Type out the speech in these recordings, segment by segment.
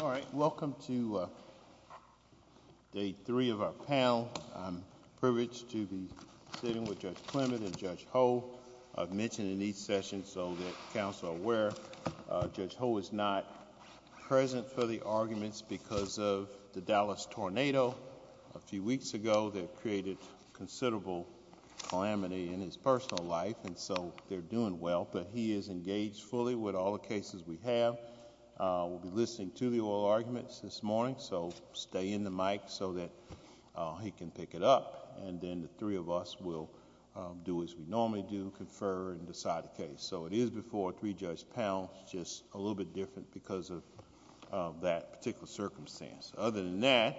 All right. Welcome to day three of our panel. I'm privileged to be sitting with Judge Clement and Judge Ho. I've mentioned in each session so that the Council is aware, Judge Ho is not present for the arguments because of the Dallas tornado a few weeks ago that created considerable calamity in his personal life, and so they're doing well. But he is engaged fully with all the cases we have. We'll be listening to the oral arguments this morning, so stay in the mic so that he can pick it up, and then the three of us will do as we normally do, confer and decide a case. So it is before three Judge panels, just a little bit different because of that particular circumstance. Other than that,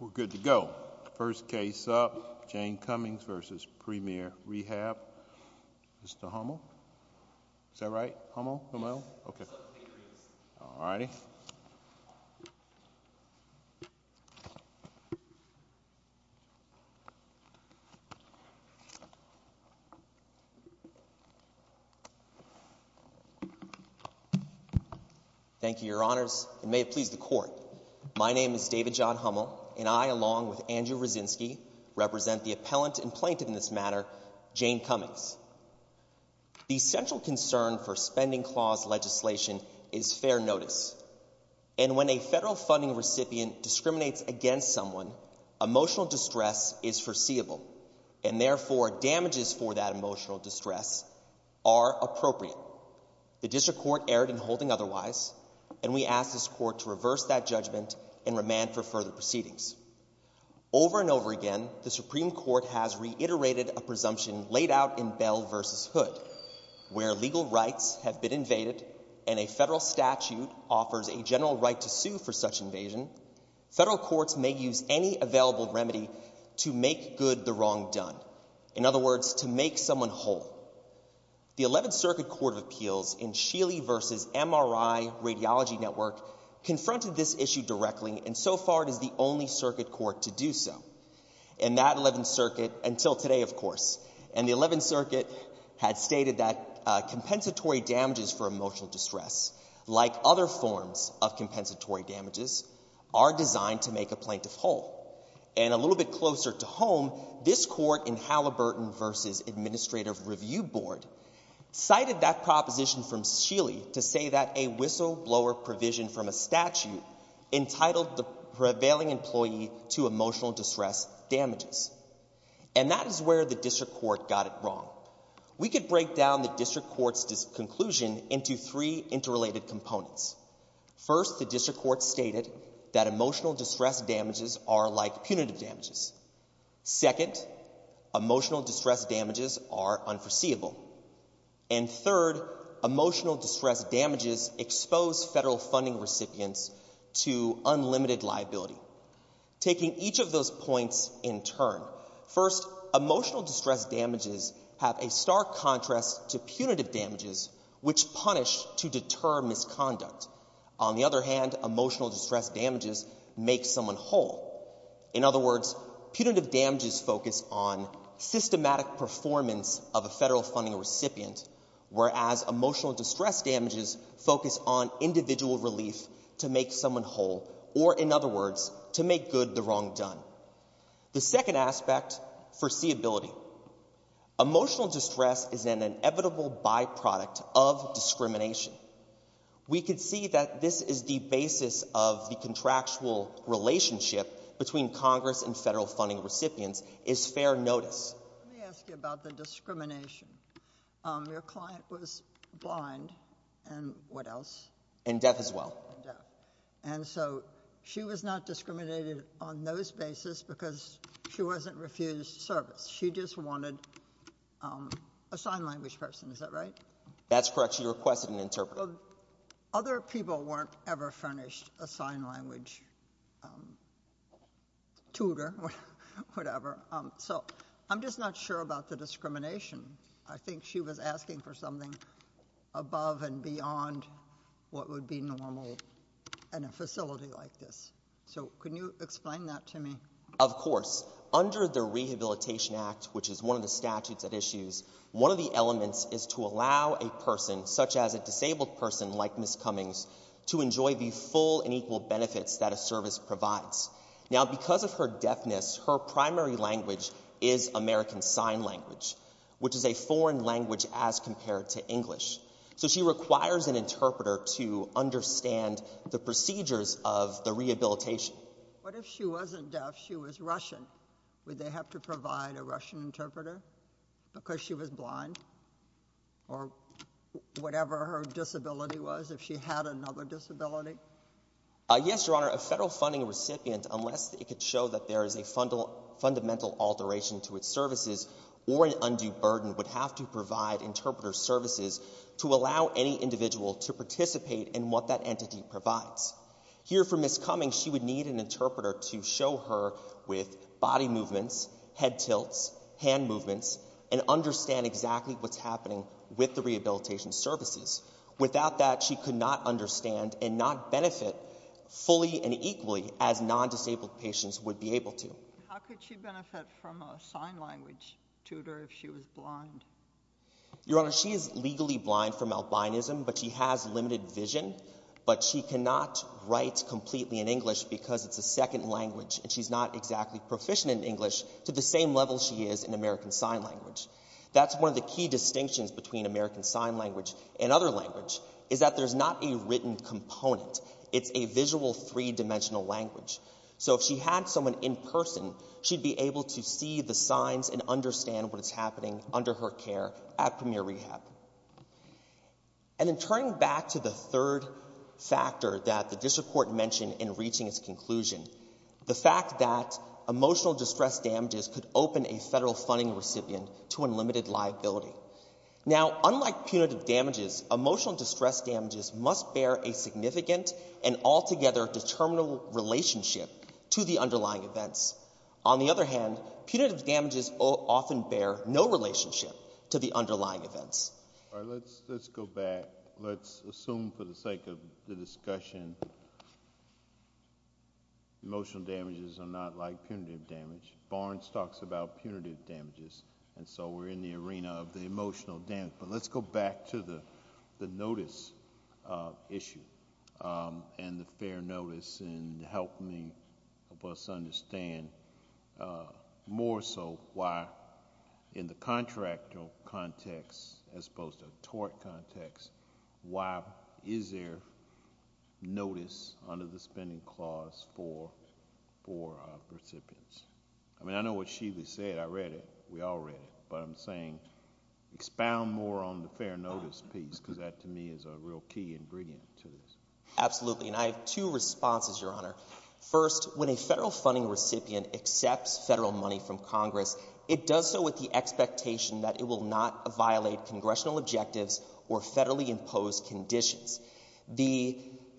we're good to go. First case up, Jane Cummings v. Premier Rehab. Mr. Hummel? Is that right? Hummel? Okay. Alrighty. Thank you, Your Honors, and may it please the Court, my name is David John Hummel, and I, along with Andrew Rozinski, represent the appellant and plaintiff in this matter, Jane Cummings. The central concern for spending clause legislation is fair notice, and when a federal funding recipient discriminates against someone, emotional distress is foreseeable, and therefore, damages for that emotional distress are appropriate. The District Court erred in holding otherwise, and we ask this Court to reverse that judgment and remand for further proceedings. Over and over again, the Supreme Court has reiterated a presumption laid out in Bell v. Hood, where legal rights have been invaded, and a federal statute offers a general right to sue for such invasion, federal courts may use any available remedy to make good the wrong done. In other words, to make someone whole. The Eleventh Circuit Court of Appeals in Sheely v. MRI Radiology Network confronted this issue directly, and so far, it is the only circuit court to do so. And that Eleventh Circuit, until today, of course, and the Eleventh Circuit had stated that compensatory damages for emotional distress, like other forms of compensatory damages, are designed to make a plaintiff whole. And a little bit closer to home, this Court in Halliburton v. Administrative Review Board cited that proposition from Sheely to say that a whistleblower provision from a statute entitled the prevailing employee to emotional distress damages. And that is where the District Court got it wrong. We could break down the District Court's conclusion into three interrelated components. First, the District Court stated that emotional distress damages are like punitive damages. And third, emotional distress damages expose federal funding recipients to unlimited liability. Taking each of those points in turn, first, emotional distress damages have a stark contrast to punitive damages, which punish to deter misconduct. On the other hand, emotional distress damages make someone whole. In other words, punitive damages focus on the recipient, whereas emotional distress damages focus on individual relief to make someone whole, or in other words, to make good the wrong done. The second aspect, foreseeability. Emotional distress is an inevitable byproduct of discrimination. We could see that this is the basis of the contractual relationship between Congress and federal funding recipients, is fair notice. Let me ask you about the discrimination. Your client was blind and what else? And deaf as well. And so she was not discriminated on those basis because she wasn't refused service. She just wanted a sign language person, is that right? That's correct. She requested an interpreter. Other people weren't ever furnished a sign language tutor, whatever. So I'm just not sure about the discrimination. I think she was asking for something above and beyond what would be normal in a facility like this. So can you explain that to me? Of course. Under the Rehabilitation Act, which is one of the statutes at issues, one of the elements is to allow a person, such as a disabled person like Ms. Cummings, to enjoy the full and equal benefits that a service provides. Now because of her deafness, her primary language is American Sign Language, which is a foreign language as compared to English. So she requires an interpreter to understand the procedures of the rehabilitation. What if she wasn't deaf, she was Russian? Would they have to provide a Russian interpreter because she was blind? Or whatever her disability was, if she had another disability? Yes, Your Honor. A federal funding recipient, unless it could show that there is a fundamental alteration to its services or an undue burden, would have to provide interpreter services to allow any individual to participate in what that entity provides. Here for Ms. Cummings, she would need an interpreter to show her with body movements, head tilts, hand movements, and understand exactly what's happening with the rehabilitation services. Without that, she could not understand and not benefit fully and equally as non-disabled patients would be able to. How could she benefit from a sign language tutor if she was blind? Your Honor, she is legally blind from albinism, but she has limited vision. But she cannot write completely in English because it's a second language, and she's not exactly proficient in English to the same level she is in American Sign Language. That's one of the key distinctions between American Sign Language and other language, is that there's not a written component. It's a visual three-dimensional language. So if she had someone in person, she'd be able to see the signs and understand what's happening under her care at Premier Rehab. And then turning back to the third factor that the District Court mentioned in reaching its conclusion, the fact that emotional distress damages could open a federal funding recipient to unlimited liability. Now, unlike punitive damages, emotional distress damages must bear a significant and altogether determinable relationship to the underlying events. On the other hand, punitive damages often bear no relationship to the underlying events. All right, let's go back. Let's assume, for the sake of the discussion, emotional damage. And so we're in the arena of the emotional damage. But let's go back to the notice issue and the fair notice and help me help us understand more so why, in the contractual context as opposed to a tort context, why is there notice under the spending clause for recipients? I mean, I know what Sheila said. I read it. We all read it. But I'm saying expound more on the fair notice piece because that, to me, is a real key ingredient to this. Absolutely. And I have two responses, Your Honor. First, when a federal funding recipient accepts federal money from Congress, it does so with the expectation that it will not violate congressional objectives or federally imposed conditions. The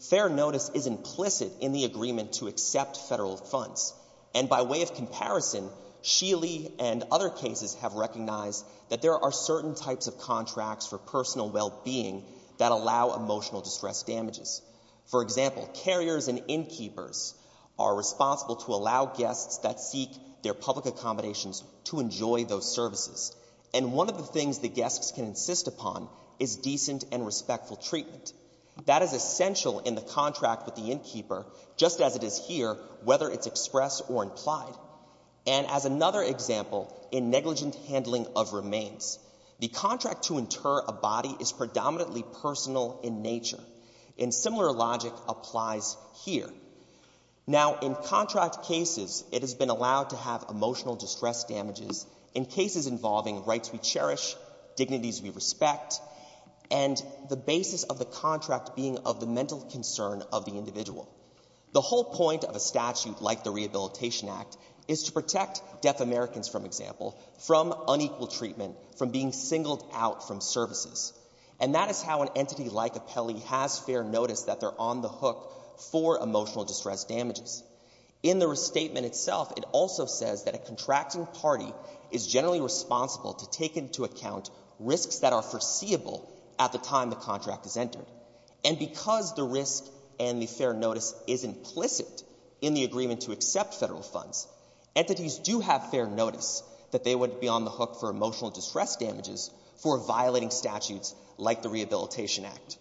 fair notice is implicit in the agreement to accept federal funds. And by way of comparison, Sheila and other cases have recognized that there are certain types of contracts for personal well-being that allow emotional distress damages. For example, carriers and innkeepers are responsible to allow guests that seek their public accommodations to enjoy those services. And one of the things the guests can insist upon is decent and respectful treatment. That is essential in the contract with the innkeeper, just as it is here, whether it's expressed or implied. And as another example, in negligent handling of remains, the contract to inter a body is predominantly personal in nature. And similar logic applies here. Now, in contract cases, it has been allowed to have emotional distress damages in cases involving rights we cherish, dignities we respect, and the basis of the contract being of the mental concern of the individual. The whole point of a statute like the Rehabilitation Act is to protect deaf Americans, for example, from unequal treatment, from being singled out from services. And that is how an entity like Apelli has fair notice that they're on the hook for emotional distress damages. In the restatement itself, it also says that a contracting party is generally responsible to take into account risks that are foreseeable at the time the contract is entered. And because the risk and the fair notice is implicit in the agreement to accept federal funds, entities do have fair notice that they would be on the hook for emotional distress damages for violating statutes like the Rehabilitation Act.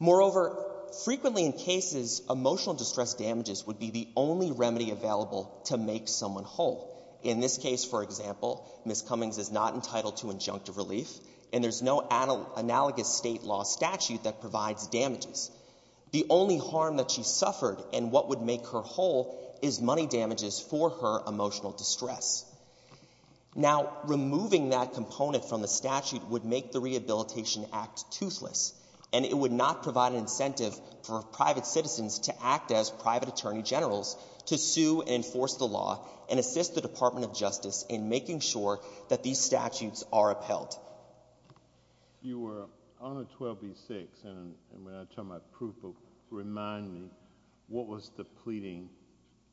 Moreover, frequently in cases, emotional distress damages would be the only remedy available to make someone whole. In this case, for example, Ms. Cummings is not entitled to injunctive relief, and there's no analogous State law statute that provides damages. The only harm that she suffered and what would make her whole is money damages for her emotional distress. Now, removing that component from the statute would make the Rehabilitation Act toothless, and it would not provide an incentive for private citizens to act as private attorney generals to sue and enforce the law and assist the Department of Justice in making sure that these statutes are upheld. You were on the 12b-6, and when I tell my proof, remind me, what was the pleading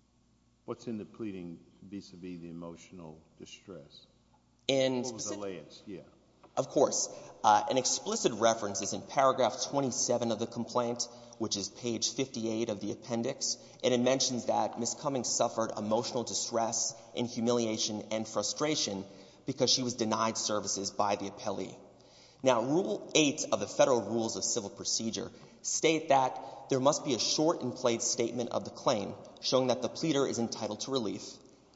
— what's in the pleading vis-à-vis the emotional distress? In specific— What was the last? Yeah. Of course. An explicit reference is in paragraph 27 of the complaint, which is page 58 of the appendix, and it mentions that Ms. Cummings suffered emotional distress and humiliation and frustration because she was denied services by the appellee. Now, Rule 8 of the Federal Rules of Civil Procedure state that there must be a short and plaid statement of the claim showing that the pleader is entitled to relief,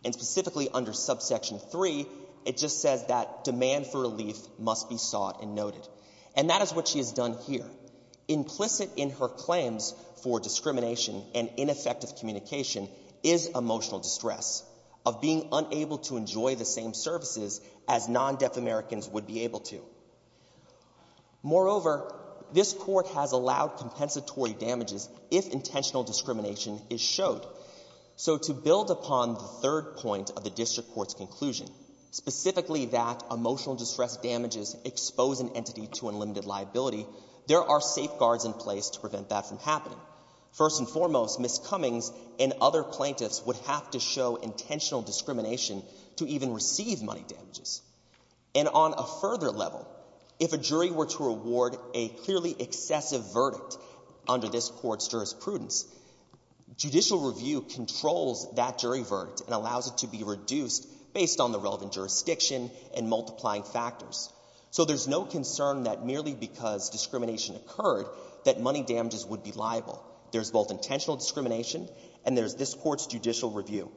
and specifically under subsection 3, it just says that demand for relief must be sought and noted. And that is what she has done here. Implicit in her claims for discrimination and ineffective communication is emotional distress, of being unable to enjoy the same services as non-deaf Americans would be able to. Moreover, this Court has allowed compensatory damages if intentional discrimination is showed. So to build upon the third point of the district court's conclusion, specifically that emotional distress damages expose an entity to unlimited liability, there are safeguards in place to prevent that from happening. First and foremost, Ms. Cummings and other plaintiffs would have to show intentional discrimination to even receive money damages. And on a further level, if a jury were to award a clearly excessive verdict under this Court's jurisprudence, judicial review controls that jury verdict and allows it to be reduced based on the relevant jurisdiction and multiplying factors. So there's no concern that merely because discrimination occurred that money damages would be liable. There's both intentional discrimination and there's this Court's judicial review.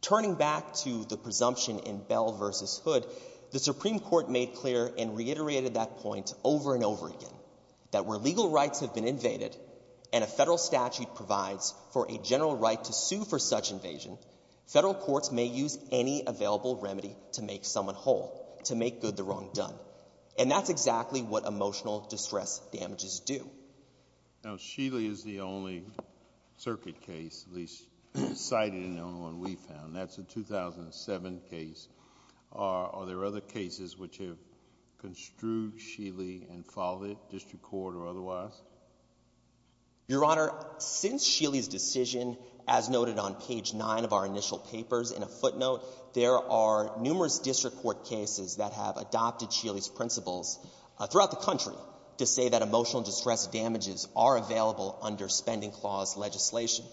Turning back to the presumption in Bell v. Hood, the Supreme Court made clear and reiterated that point over and over again, that where legal rights have been invaded and a Federal court may use any available remedy to make someone whole, to make good the wrong done. And that's exactly what emotional distress damages do. Now, Sheely is the only circuit case, at least cited in the only one we found. That's a 2007 case. Are there other cases which have construed Sheely and followed it, district court or otherwise? Your Honor, since Sheely's decision, as noted on page 9 of our initial papers in a footnote, there are numerous district court cases that have adopted Sheely's principles throughout the country to say that emotional distress damages are available under spending clause legislation.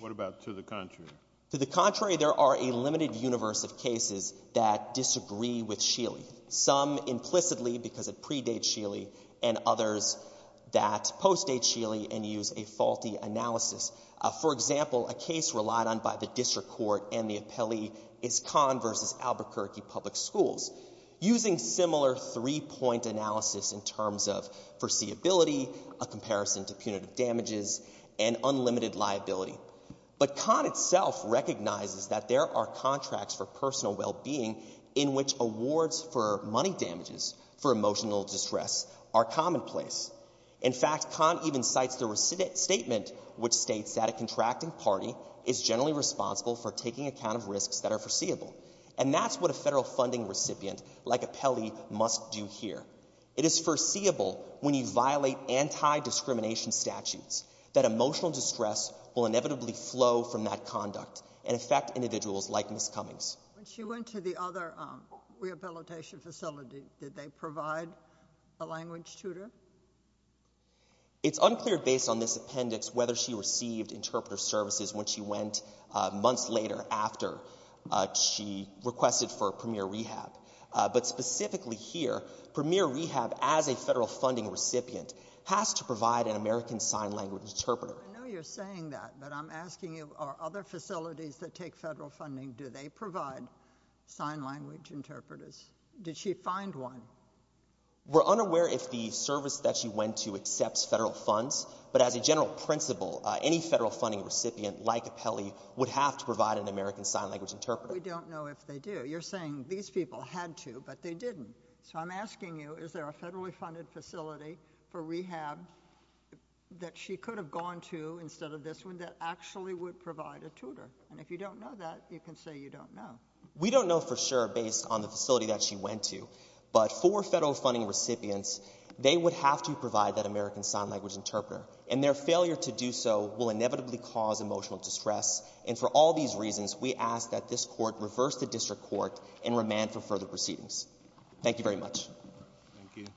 What about to the contrary? To the contrary, there are a limited universe of cases that disagree with Sheely. Some implicitly because it predates Sheely and others that post-date Sheely and use a faulty analysis. For example, a case relied on by the district court and the appellee is Kahn v. Albuquerque Public Schools, using similar three-point analysis in terms of foreseeability, a comparison to punitive damages, and unlimited liability. But Kahn itself recognizes that there are contracts for personal well-being in which awards for money damages for emotional distress are commonplace. In fact, Kahn even cites the statement which states that a contracting party is generally responsible for taking account of risks that are foreseeable. And that's what a federal funding recipient like appellee must do here. It is foreseeable when you violate anti-discrimination statutes that emotional distress will inevitably flow from that conduct and affect individuals like Ms. Cummings. When she went to the other rehabilitation facility, did they provide a language tutor? It's unclear based on this appendix whether she received interpreter services when she went months later after she requested for Premier Rehab. But specifically here, Premier Rehab, as a federal funding recipient, has to provide an American Sign Language interpreter. I know you're saying that, but I'm asking you, are other facilities that take federal funding, do they provide sign language interpreters? Did she find one? We're unaware if the service that she went to accepts federal funds, but as a general principle, any federal funding recipient like appellee would have to provide an American Sign Language interpreter. We don't know if they do. You're saying these people had to, but they didn't. So I'm asking you, is there a federally funded facility for rehab that she could have gone to instead of this one that actually would provide a tutor? And if you don't know that, you can say you don't know. We don't know for sure based on the facility that she went to, but for federal funding recipients, they would have to provide that American Sign Language interpreter. And their failure to do so will inevitably cause emotional distress. And for all these reasons, we ask that this Court reverse the district court and remand for further proceedings. Thank you very much. Thank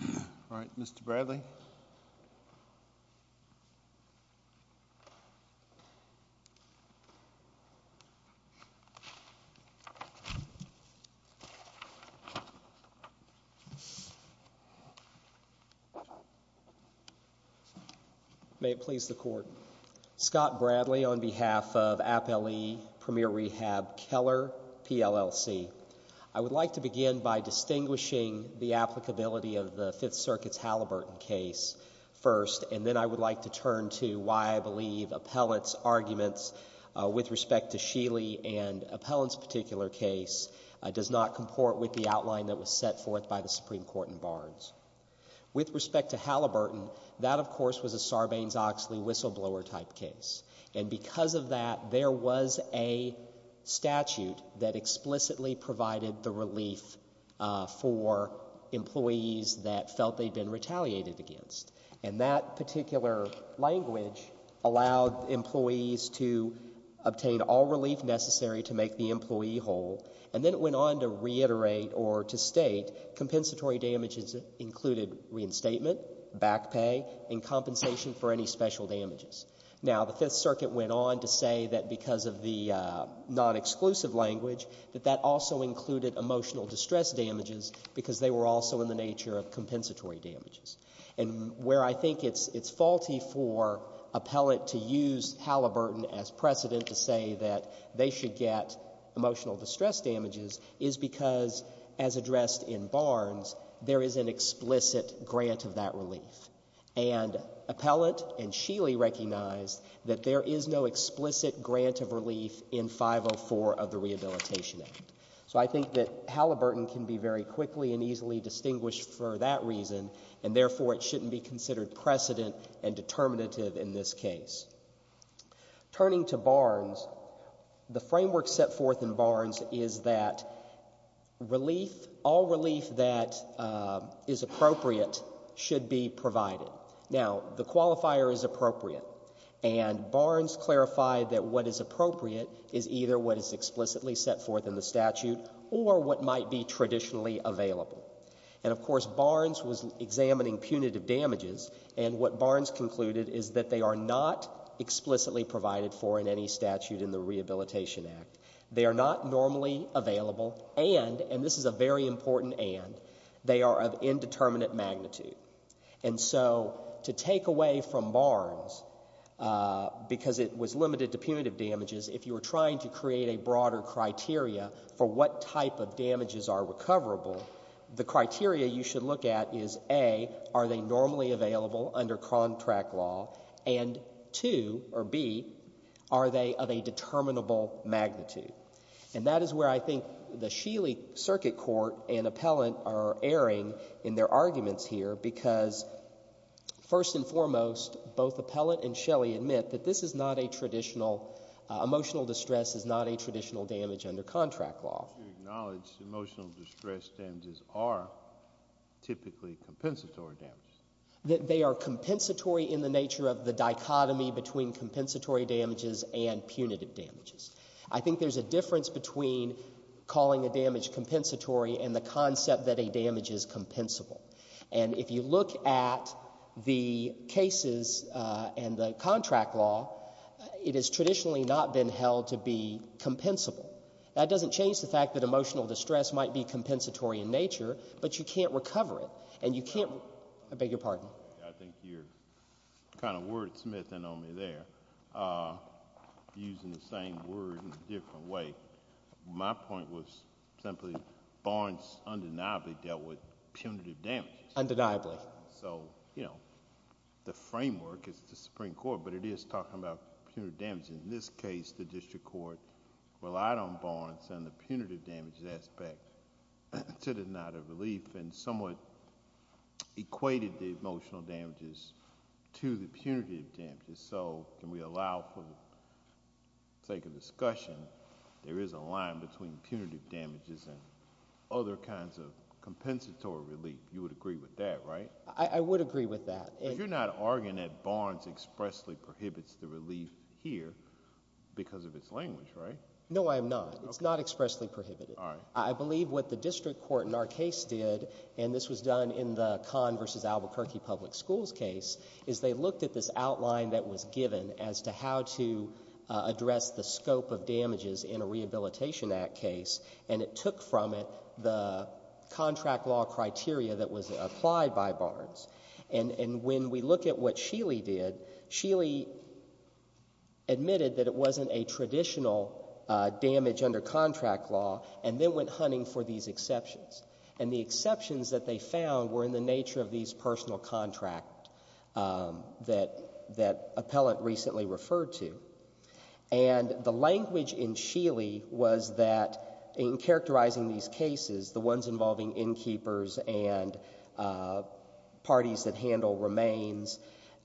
you. All right. Mr. Bradley. May it please the Court. Scott Bradley on behalf of Appellee Premier Rehab Keller, PLLC. I would like to begin by distinguishing the applicability of the Fifth Circuit's Halliburton case first, and then I would like to turn to why I believe Appellant's arguments with respect to Sheely and Appellant's particular case does not comport with the outline that was set forth by the Supreme Court in Barnes. With respect to Halliburton, that, of course, was a Sarbanes-Oxley whistleblower type case. And because of that, there was a statute that explicitly provided the relief for employees that felt they'd been retaliated against. And that particular language allowed employees to obtain all relief necessary to make the employee whole. And then it went on to reiterate or to state compensatory damages included reinstatement, back pay, and compensation for any special damages. Now, the Fifth Circuit went on to say that because of the non-exclusive language, that also included emotional distress damages because they were also in the nature of compensatory damages. And where I think it's faulty for Appellant to use Halliburton as precedent to say that they should get emotional distress damages is because, as addressed in Barnes, there is an explicit grant of that relief. And Appellant and Sheely recognized that there is no explicit grant of relief in 504 of the Rehabilitation Act. So I think that Halliburton can be very quickly and easily distinguished for that reason. And therefore, it shouldn't be considered precedent and determinative in this case. Turning to Barnes, the framework set forth in Barnes is that relief, all relief that is appropriate should be provided. Now, the qualifier is appropriate. And Barnes clarified that what is appropriate is either what is explicitly set forth in the statute or what might be traditionally available. And, of course, Barnes was examining punitive damages, and what Barnes concluded is that they are not explicitly provided for in any statute in the Rehabilitation Act. They are not normally available and, and this is a very important and, they are of indeterminate magnitude. And so to take away from Barnes, because it was limited to punitive damages, if you were trying to create a broader criteria for what type of damages are recoverable, the criteria you should look at is, A, are they normally available under contract law? And, two, or B, are they of a determinable magnitude? And that is where I think the Sheely Circuit Court and Appellant are erring in their arguments here because, first and foremost, both Appellant and Shelley admit that this is not a traditional, emotional distress is not a traditional damage under contract law. But you acknowledge emotional distress damages are typically compensatory damages. They are compensatory in the nature of the dichotomy between compensatory damages and there is a difference between calling a damage compensatory and the concept that a damage is compensable. And if you look at the cases and the contract law, it has traditionally not been held to be compensable. That doesn't change the fact that emotional distress might be compensatory in nature, but you can't recover it. And you can't, I beg your pardon? I think you are kind of wordsmithing on me there, using the same word in a different way. My point was simply Barnes undeniably dealt with punitive damages. Undeniably. So, you know, the framework is the Supreme Court, but it is talking about punitive damages. In this case, the district court relied on Barnes and the punitive damages aspect to deny the relief and somewhat equated the emotional damages to the punitive damages. So can we allow for the sake of discussion, there is a line between punitive damages and other kinds of compensatory relief. You would agree with that, right? I would agree with that. But you are not arguing that Barnes expressly prohibits the relief here because of its language, right? No, I am not. It is not expressly prohibited. I believe what the district court in our case did, and this was done in the Kahn v. Albuquerque Public Schools case, is they looked at this how to address the scope of damages in a Rehabilitation Act case, and it took from it the contract law criteria that was applied by Barnes. And when we look at what Sheely did, Sheely admitted that it wasn't a traditional damage under contract law, and then went hunting for these exceptions. And the exceptions that they found were in the nature of these personal contract laws that Appellant recently referred to. And the language in Sheely was that in characterizing these cases, the ones involving innkeepers and parties that handle remains,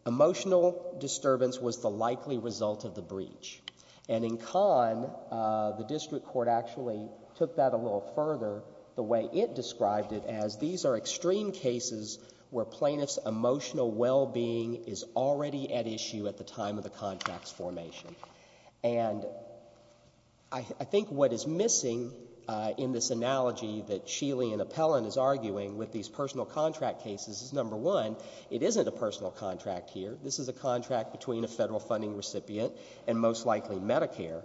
emotional disturbance was the likely result of the breach. And in Kahn, the district court actually took that a little further, the way it described it, as these are extreme cases where plaintiffs' emotional well-being is already at issue at the time of the contract's formation. And I think what is missing in this analogy that Sheely and Appellant is arguing with these personal contract cases is, number one, it isn't a personal contract here. This is a contract between a federal funding recipient, and most likely Medicare.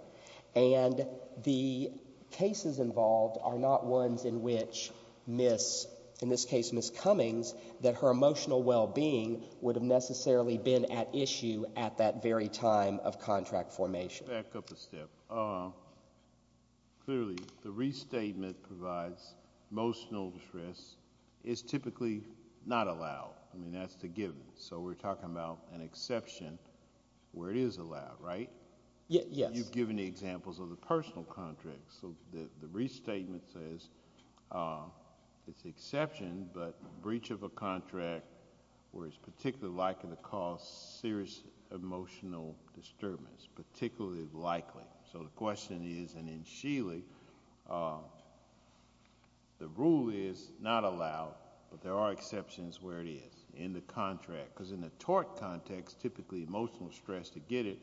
And the cases involved are not ones in which Ms., in this case Ms. Cummings, that her emotional well-being would have necessarily been at issue at that very time of contract formation. Back up a step. Clearly, the restatement provides emotional distress is typically not allowed. I mean, that's the given. So we're talking about an exception where it is allowed, right? Yes. But you've given the examples of the personal contracts. So the restatement says it's an exception, but breach of a contract where it's particularly likely to cause serious emotional disturbance, particularly likely. So the question is, and in Sheely, the rule is not allowed, but there are exceptions where it is, in the contract. Because in the tort context, typically emotional stress, to get it,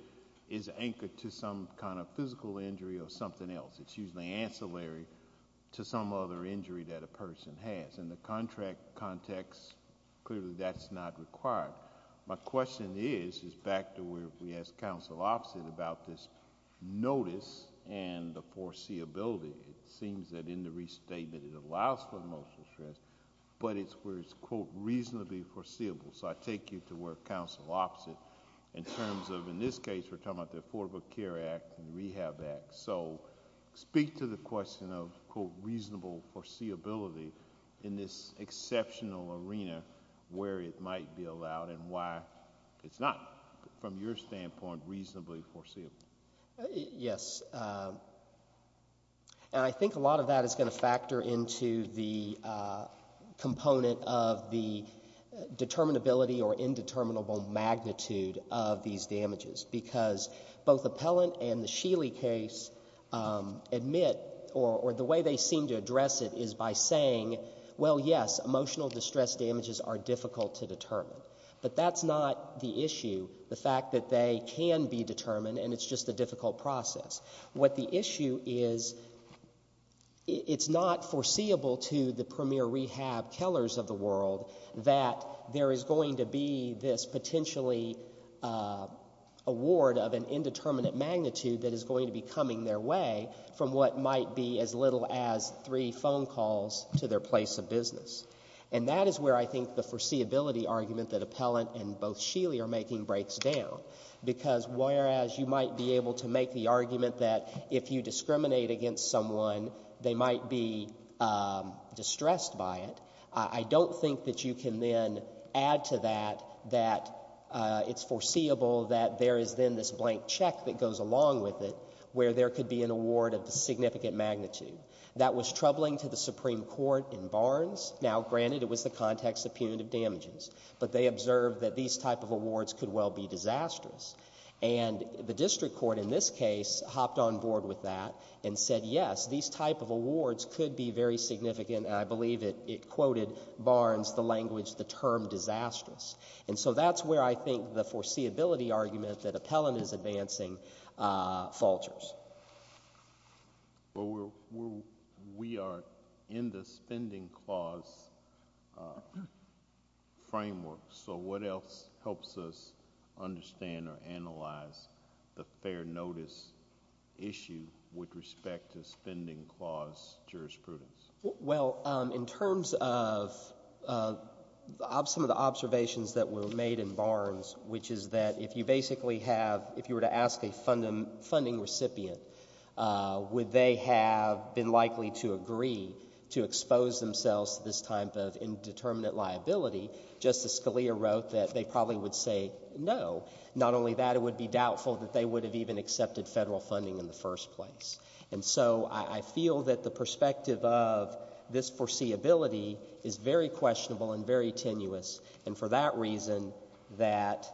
is anchored to some kind of physical injury or something else. It's usually ancillary to some other injury that a person has. In the contract context, clearly that's not required. My question is, is back to where we asked counsel opposite about this notice and the foreseeability. It seems that in the restatement it allows for emotional stress, but it's where it's, quote, reasonably foreseeable. So I take you to where counsel opposite, in terms of, in this case, we're talking about the Affordable Care Act and the Rehab Act. So speak to the question of, quote, reasonable foreseeability in this exceptional arena where it might be allowed and why it's not, from your standpoint, reasonably foreseeable. Yes. And I think a lot of that is going to factor into the component of the determinability or indeterminable magnitude of these damages. Because both appellant and the Sheely case admit, or the way they seem to address it, is by saying, well, yes, emotional distress damages are difficult to determine. But that's not the issue. The fact that they can be determined, and it's just a difficult process. What the issue is, it's not foreseeable to the premier rehab tellers of the world that there is going to be this potentially award of an indeterminate magnitude that is going to be coming their way from what might be as little as three phone calls to their place of business. And that is where I think the foreseeability argument that appellant and both Sheely are making breaks down. Because whereas you might be able to make the argument that if you discriminate against someone, they might be distressed by it, I don't think that you can then add to that that it's foreseeable that there is then this blank check that goes along with it where there could be an award of a significant magnitude. That was troubling to the Supreme Court in Barnes. Now, granted, it was the context of punitive damages. But they observed that these type of awards could well be disastrous. And the district court in this case hopped on board with that and said, yes, these type of awards could be very significant. And I believe it quoted Barnes, the language, the term disastrous. And so that's where I think the foreseeability argument that appellant is advancing falters. Well, we are in the spending clause framework. So what else helps us understand or analyze the fair notice issue with respect to spending clause jurisprudence? Well, in terms of some of the observations that were made in Barnes, which is that if you basically have, if you were to ask a funding recipient, would they have been likely to agree to expose themselves to this type of indeterminate liability, Justice Scalia wrote that they probably would say no. Not only that, it would be doubtful that they would have even accepted federal funding in the first place. And so I feel that the perspective of this foreseeability is very questionable and very tenuous. And for that reason, that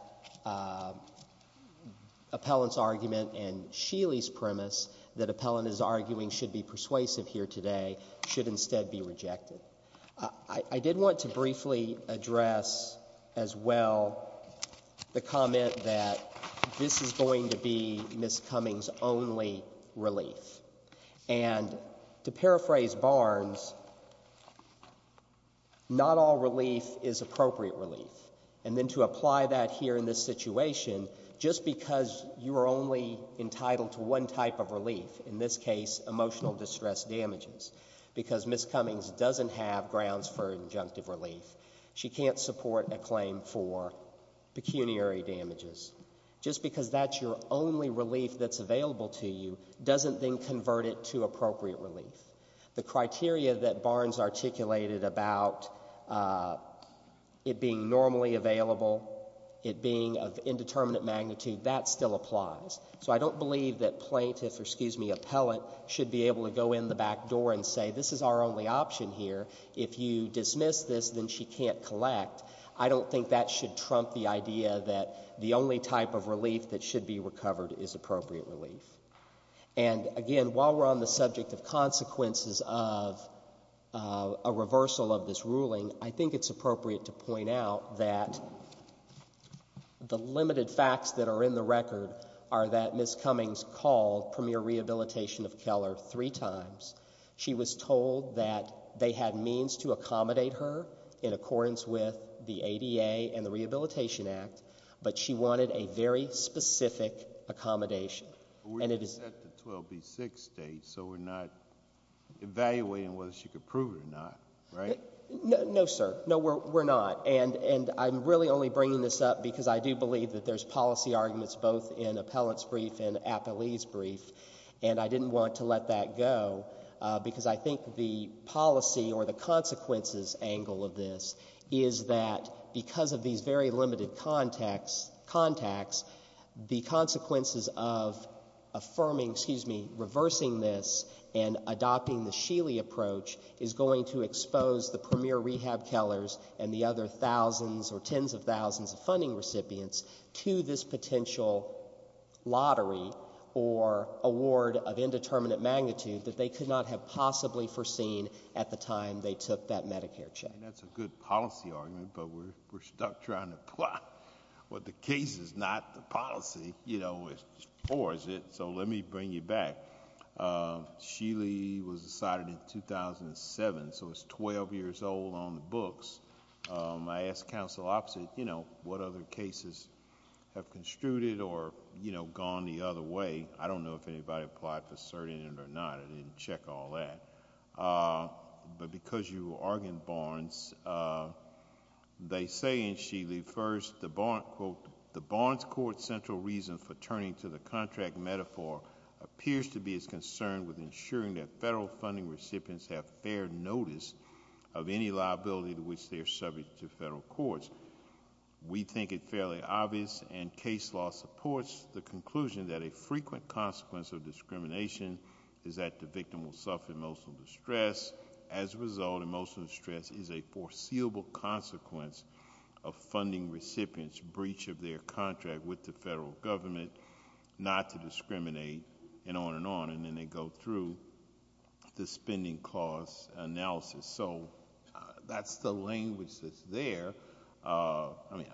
appellant's argument and Sheely's premise that appellant is arguing should be persuasive here today should instead be rejected. I did want to briefly address as well the comment that this is going to be Ms. Cummings' only relief. And to paraphrase Barnes, not all relief is appropriate relief. And then to apply that here in this situation, just because you are only entitled to one type of relief, in this case, emotional distress damages, because Ms. Cummings doesn't have grounds for injunctive relief, she can't support a claim for pecuniary damages, just because that's your only relief that's available to you doesn't then convert it to appropriate relief. The criteria that Barnes articulated about it being normally available, it being of indeterminate magnitude, that still applies. So I don't believe that plaintiff or, excuse me, appellant should be able to go in the back door and say this is our only option here. If you dismiss this, then she can't collect. I don't think that should trump the idea that the only type of relief that should be recovered is appropriate relief. And again, while we're on the subject of consequences of a reversal of this ruling, I think it's appropriate to point out that the limited facts that are in the record are that Ms. Cummings called Premier Rehabilitation of Keller three times. She was told that they had means to accommodate her in accordance with the ADA and the Rehabilitation Act, but she wanted a very specific accommodation. But we're set to 12B6 state, so we're not evaluating whether she could prove it or not, right? No, sir. No, we're not. And I'm really only bringing this up because I do believe that there's policy arguments both in appellant's brief and appellee's brief, and I didn't want to let that go, because I think the policy or the consequences angle of this is that because of these very limited contacts, the consequences of affirming, excuse me, reversing this and adopting the Sheely approach is going to expose the Premier Rehab Kellers and the other thousands or tens of thousands of funding recipients to this potential lottery or award of indeterminate magnitude that they could not have possibly foreseen at the time they took that Medicare check. That's a good policy argument, but we're stuck trying to plot what the case is not the policy, you know, or is it? So let me bring you back. Sheely was decided in 2007, so it's 12 years old on the books. I asked counsel opposite, you know, what other cases have construed it or, you know, gone the other way. I don't know if anybody applied for cert in it or not. I didn't check all that, but because you argued Barnes, they say in Sheely first the, quote, the Barnes Court central reason for turning to the contract metaphor appears to be its concern with ensuring that federal funding recipients have fair notice of any liability to which they are subject to federal courts. We think it fairly obvious, and case law supports the conclusion that a frequent consequence of discrimination is that the victim will suffer emotional distress. As a result, emotional distress is a foreseeable consequence of funding recipients' breach of their contract with the federal government not to discriminate and on and on, and then they go through the spending cost analysis. So that's the language that's there. I mean,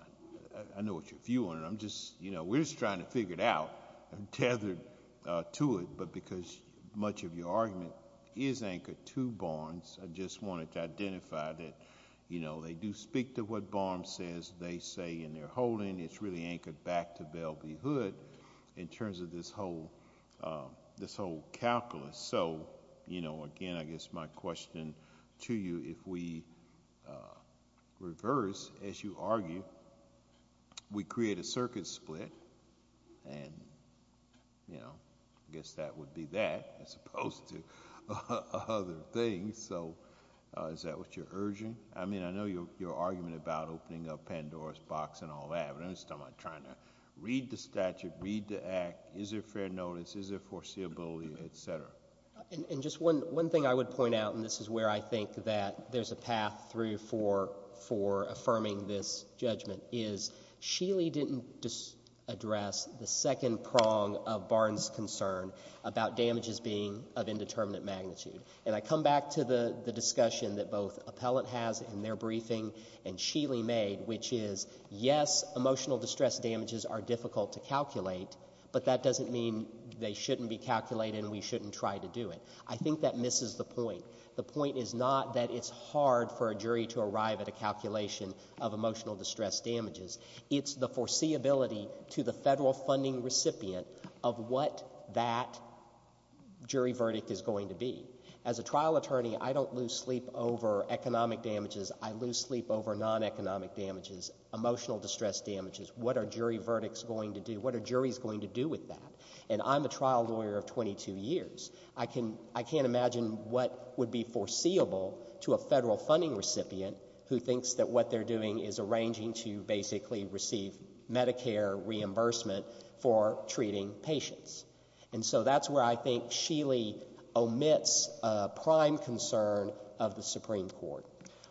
I know what your view on it. I'm just, you know, we're just trying to figure it out. I'm tethered to it, but because much of your argument is anchored to Barnes, I just wanted to identify that, you know, they do speak to what Barnes says they say in their holding. It's really anchored back to Bell v. Hood in terms of this whole calculus. So, you know, again, I guess my question to you, if we reverse, as you argue, we create a circuit split, and, you know, I guess that would be that as opposed to other things. So is that what you're urging? I mean, I know your argument about opening up Pandora's box and all that, but I'm just not trying to read the statute, read the act. Is there fair notice? Is there foreseeability, et cetera? And just one thing I would point out, and this is where I think that there's a path through for affirming this judgment, is Sheely didn't address the second prong of Barnes' concern about damages being of indeterminate magnitude. And I come back to the discussion that both Appellant has in their briefing and Sheely made, which is, yes, emotional distress damages are difficult to calculate, but that doesn't mean they shouldn't be calculated and we shouldn't try to do it. I think that misses the point. The point is not that it's hard for a jury to arrive at a calculation of emotional distress damages. It's the foreseeability to the federal funding recipient of what that jury verdict is going to be. As a trial attorney, I don't lose sleep over economic damages. I lose sleep over non-economic damages, emotional distress damages. What are jury verdicts going to do? What are juries going to do with that? And I'm a trial lawyer of 22 years. I can't imagine what would be foreseeable to a federal funding recipient who thinks that what they're doing is arranging to basically receive Medicare reimbursement for treating patients. And so that's where I think Sheely omits a prime concern of the Supreme Court.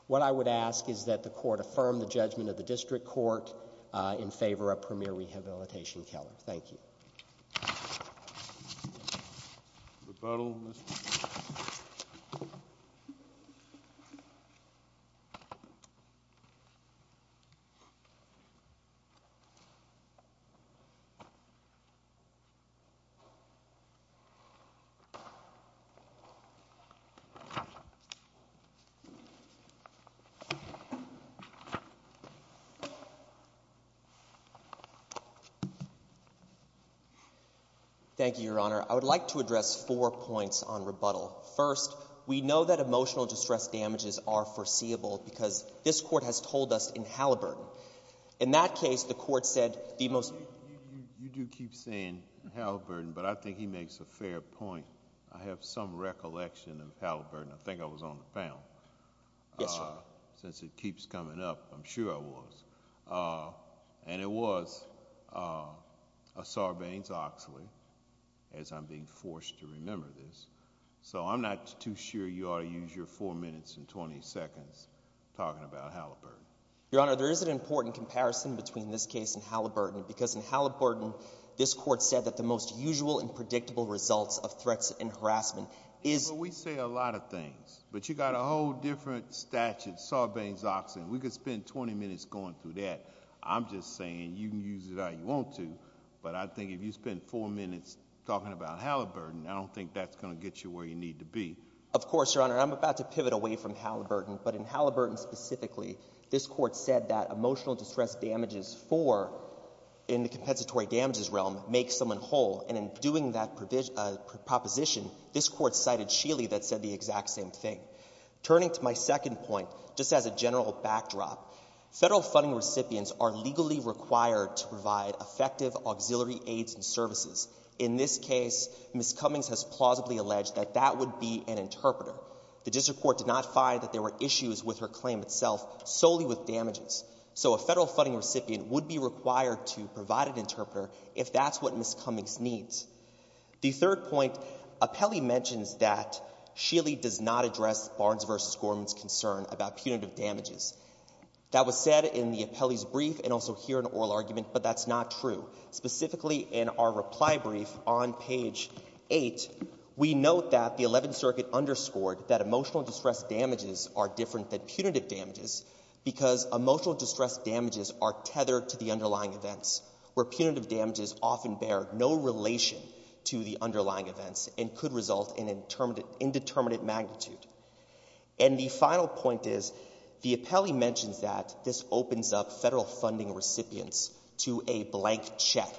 What I would ask is that the Court affirm the judgment of the District Court in favor of Premier Rehabilitation Keller. Thank you. Thank you, Your Honor. I would like to address four points on rebuttal. First, we know that emotional distress damages are foreseeable because this Court has told us in Halliburton. In that case, the Court said the most... You do keep saying Halliburton, but I think he makes a fair point. I have some recollection of Halliburton. I think I was on the panel. Yes, Your Honor. Since it keeps coming up, I'm sure I was. And it was a Sarbanes-Oxley, as I'm being forced to remember this. So I'm not too sure you ought to use your four minutes and 20 seconds talking about Halliburton. Your Honor, there is an important comparison between this case and Halliburton because in Halliburton, this Court said that the most usual and predictable results of threats and harassment is... Well, we say a lot of things. But you got a whole different statute, Sarbanes-Oxley. We could spend 20 minutes going through that. I'm just saying you can use it how you want to. But I think if you spend four minutes talking about Halliburton, I don't think that's going to get you where you need to be. Of course, Your Honor. I'm about to pivot away from Halliburton. But in Halliburton specifically, this Court said that emotional distress damages for, in the compensatory damages realm, makes someone whole. And in doing that proposition, this Court cited Sheely that said the exact same thing. Turning to my second point, just as a general backdrop, Federal funding recipients are legally required to provide effective auxiliary aids and services. In this case, Ms. Cummings has plausibly alleged that that would be an interpreter. The District Court did not find that there were issues with her claim itself, solely with damages. So a Federal funding recipient would be required to provide an interpreter if that's what Ms. Cummings needs. The third point, Apelli mentions that Sheely does not address Barnes v. Gorman's concern about punitive damages. That was said in the Apelli's brief and also here in oral argument, but that's not true. Specifically in our reply brief on page 8, we note that the Eleventh Circuit underscored that emotional distress damages are different than punitive damages because emotional distress damages are tethered to the underlying events, where punitive damages often bear no relation to the underlying events and could result in indeterminate magnitude. And the final point is, the Apelli mentions that this opens up Federal funding recipients to a blank check,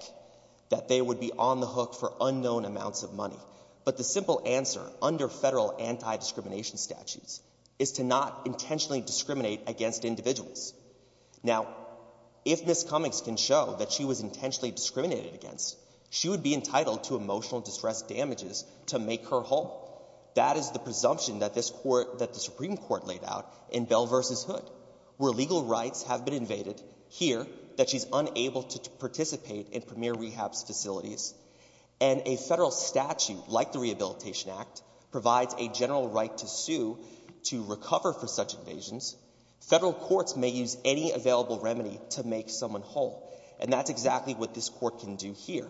that they would be on the hook for unknown amounts of money. But the simple answer under Federal anti-discrimination statutes is to not intentionally discriminate against individuals. Now, if Ms. Cummings can show that she was intentionally discriminated against, she would be entitled to emotional distress damages to make her whole. That is the presumption that this Court — that the Supreme Court laid out in Bell v. Hood, where legal rights have been invaded here that she's unable to participate in premier rehab facilities. And a Federal statute, like the Rehabilitation Act, provides a general right to sue to recover for such invasions. Federal courts may use any available remedy to make someone whole. And that's exactly what this Court can do here.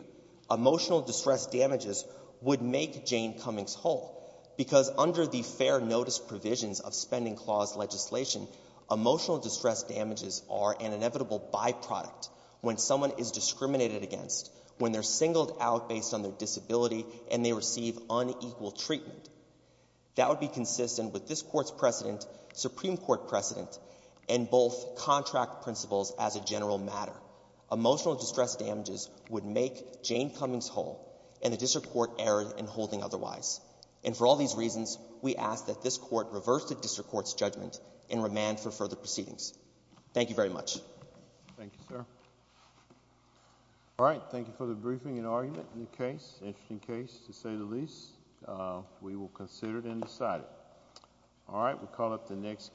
Emotional distress damages would make Jane Cummings whole, because under the Fair Notice provisions of Spending Clause legislation, emotional distress damages are an inevitable byproduct when someone is discriminated against, when they're discriminated against. That would be consistent with this Court's precedent, Supreme Court precedent, and both contract principles as a general matter. Emotional distress damages would make Jane Cummings whole, and the district court errant in holding otherwise. And for all these reasons, we ask that this Court reverse the district court's judgment and remand for further proceedings. Thank you very much. Thank you, sir. All right. Thank you for the briefing and argument in the case. To say the least, we will consider it and decide it. All right. We'll call up the next.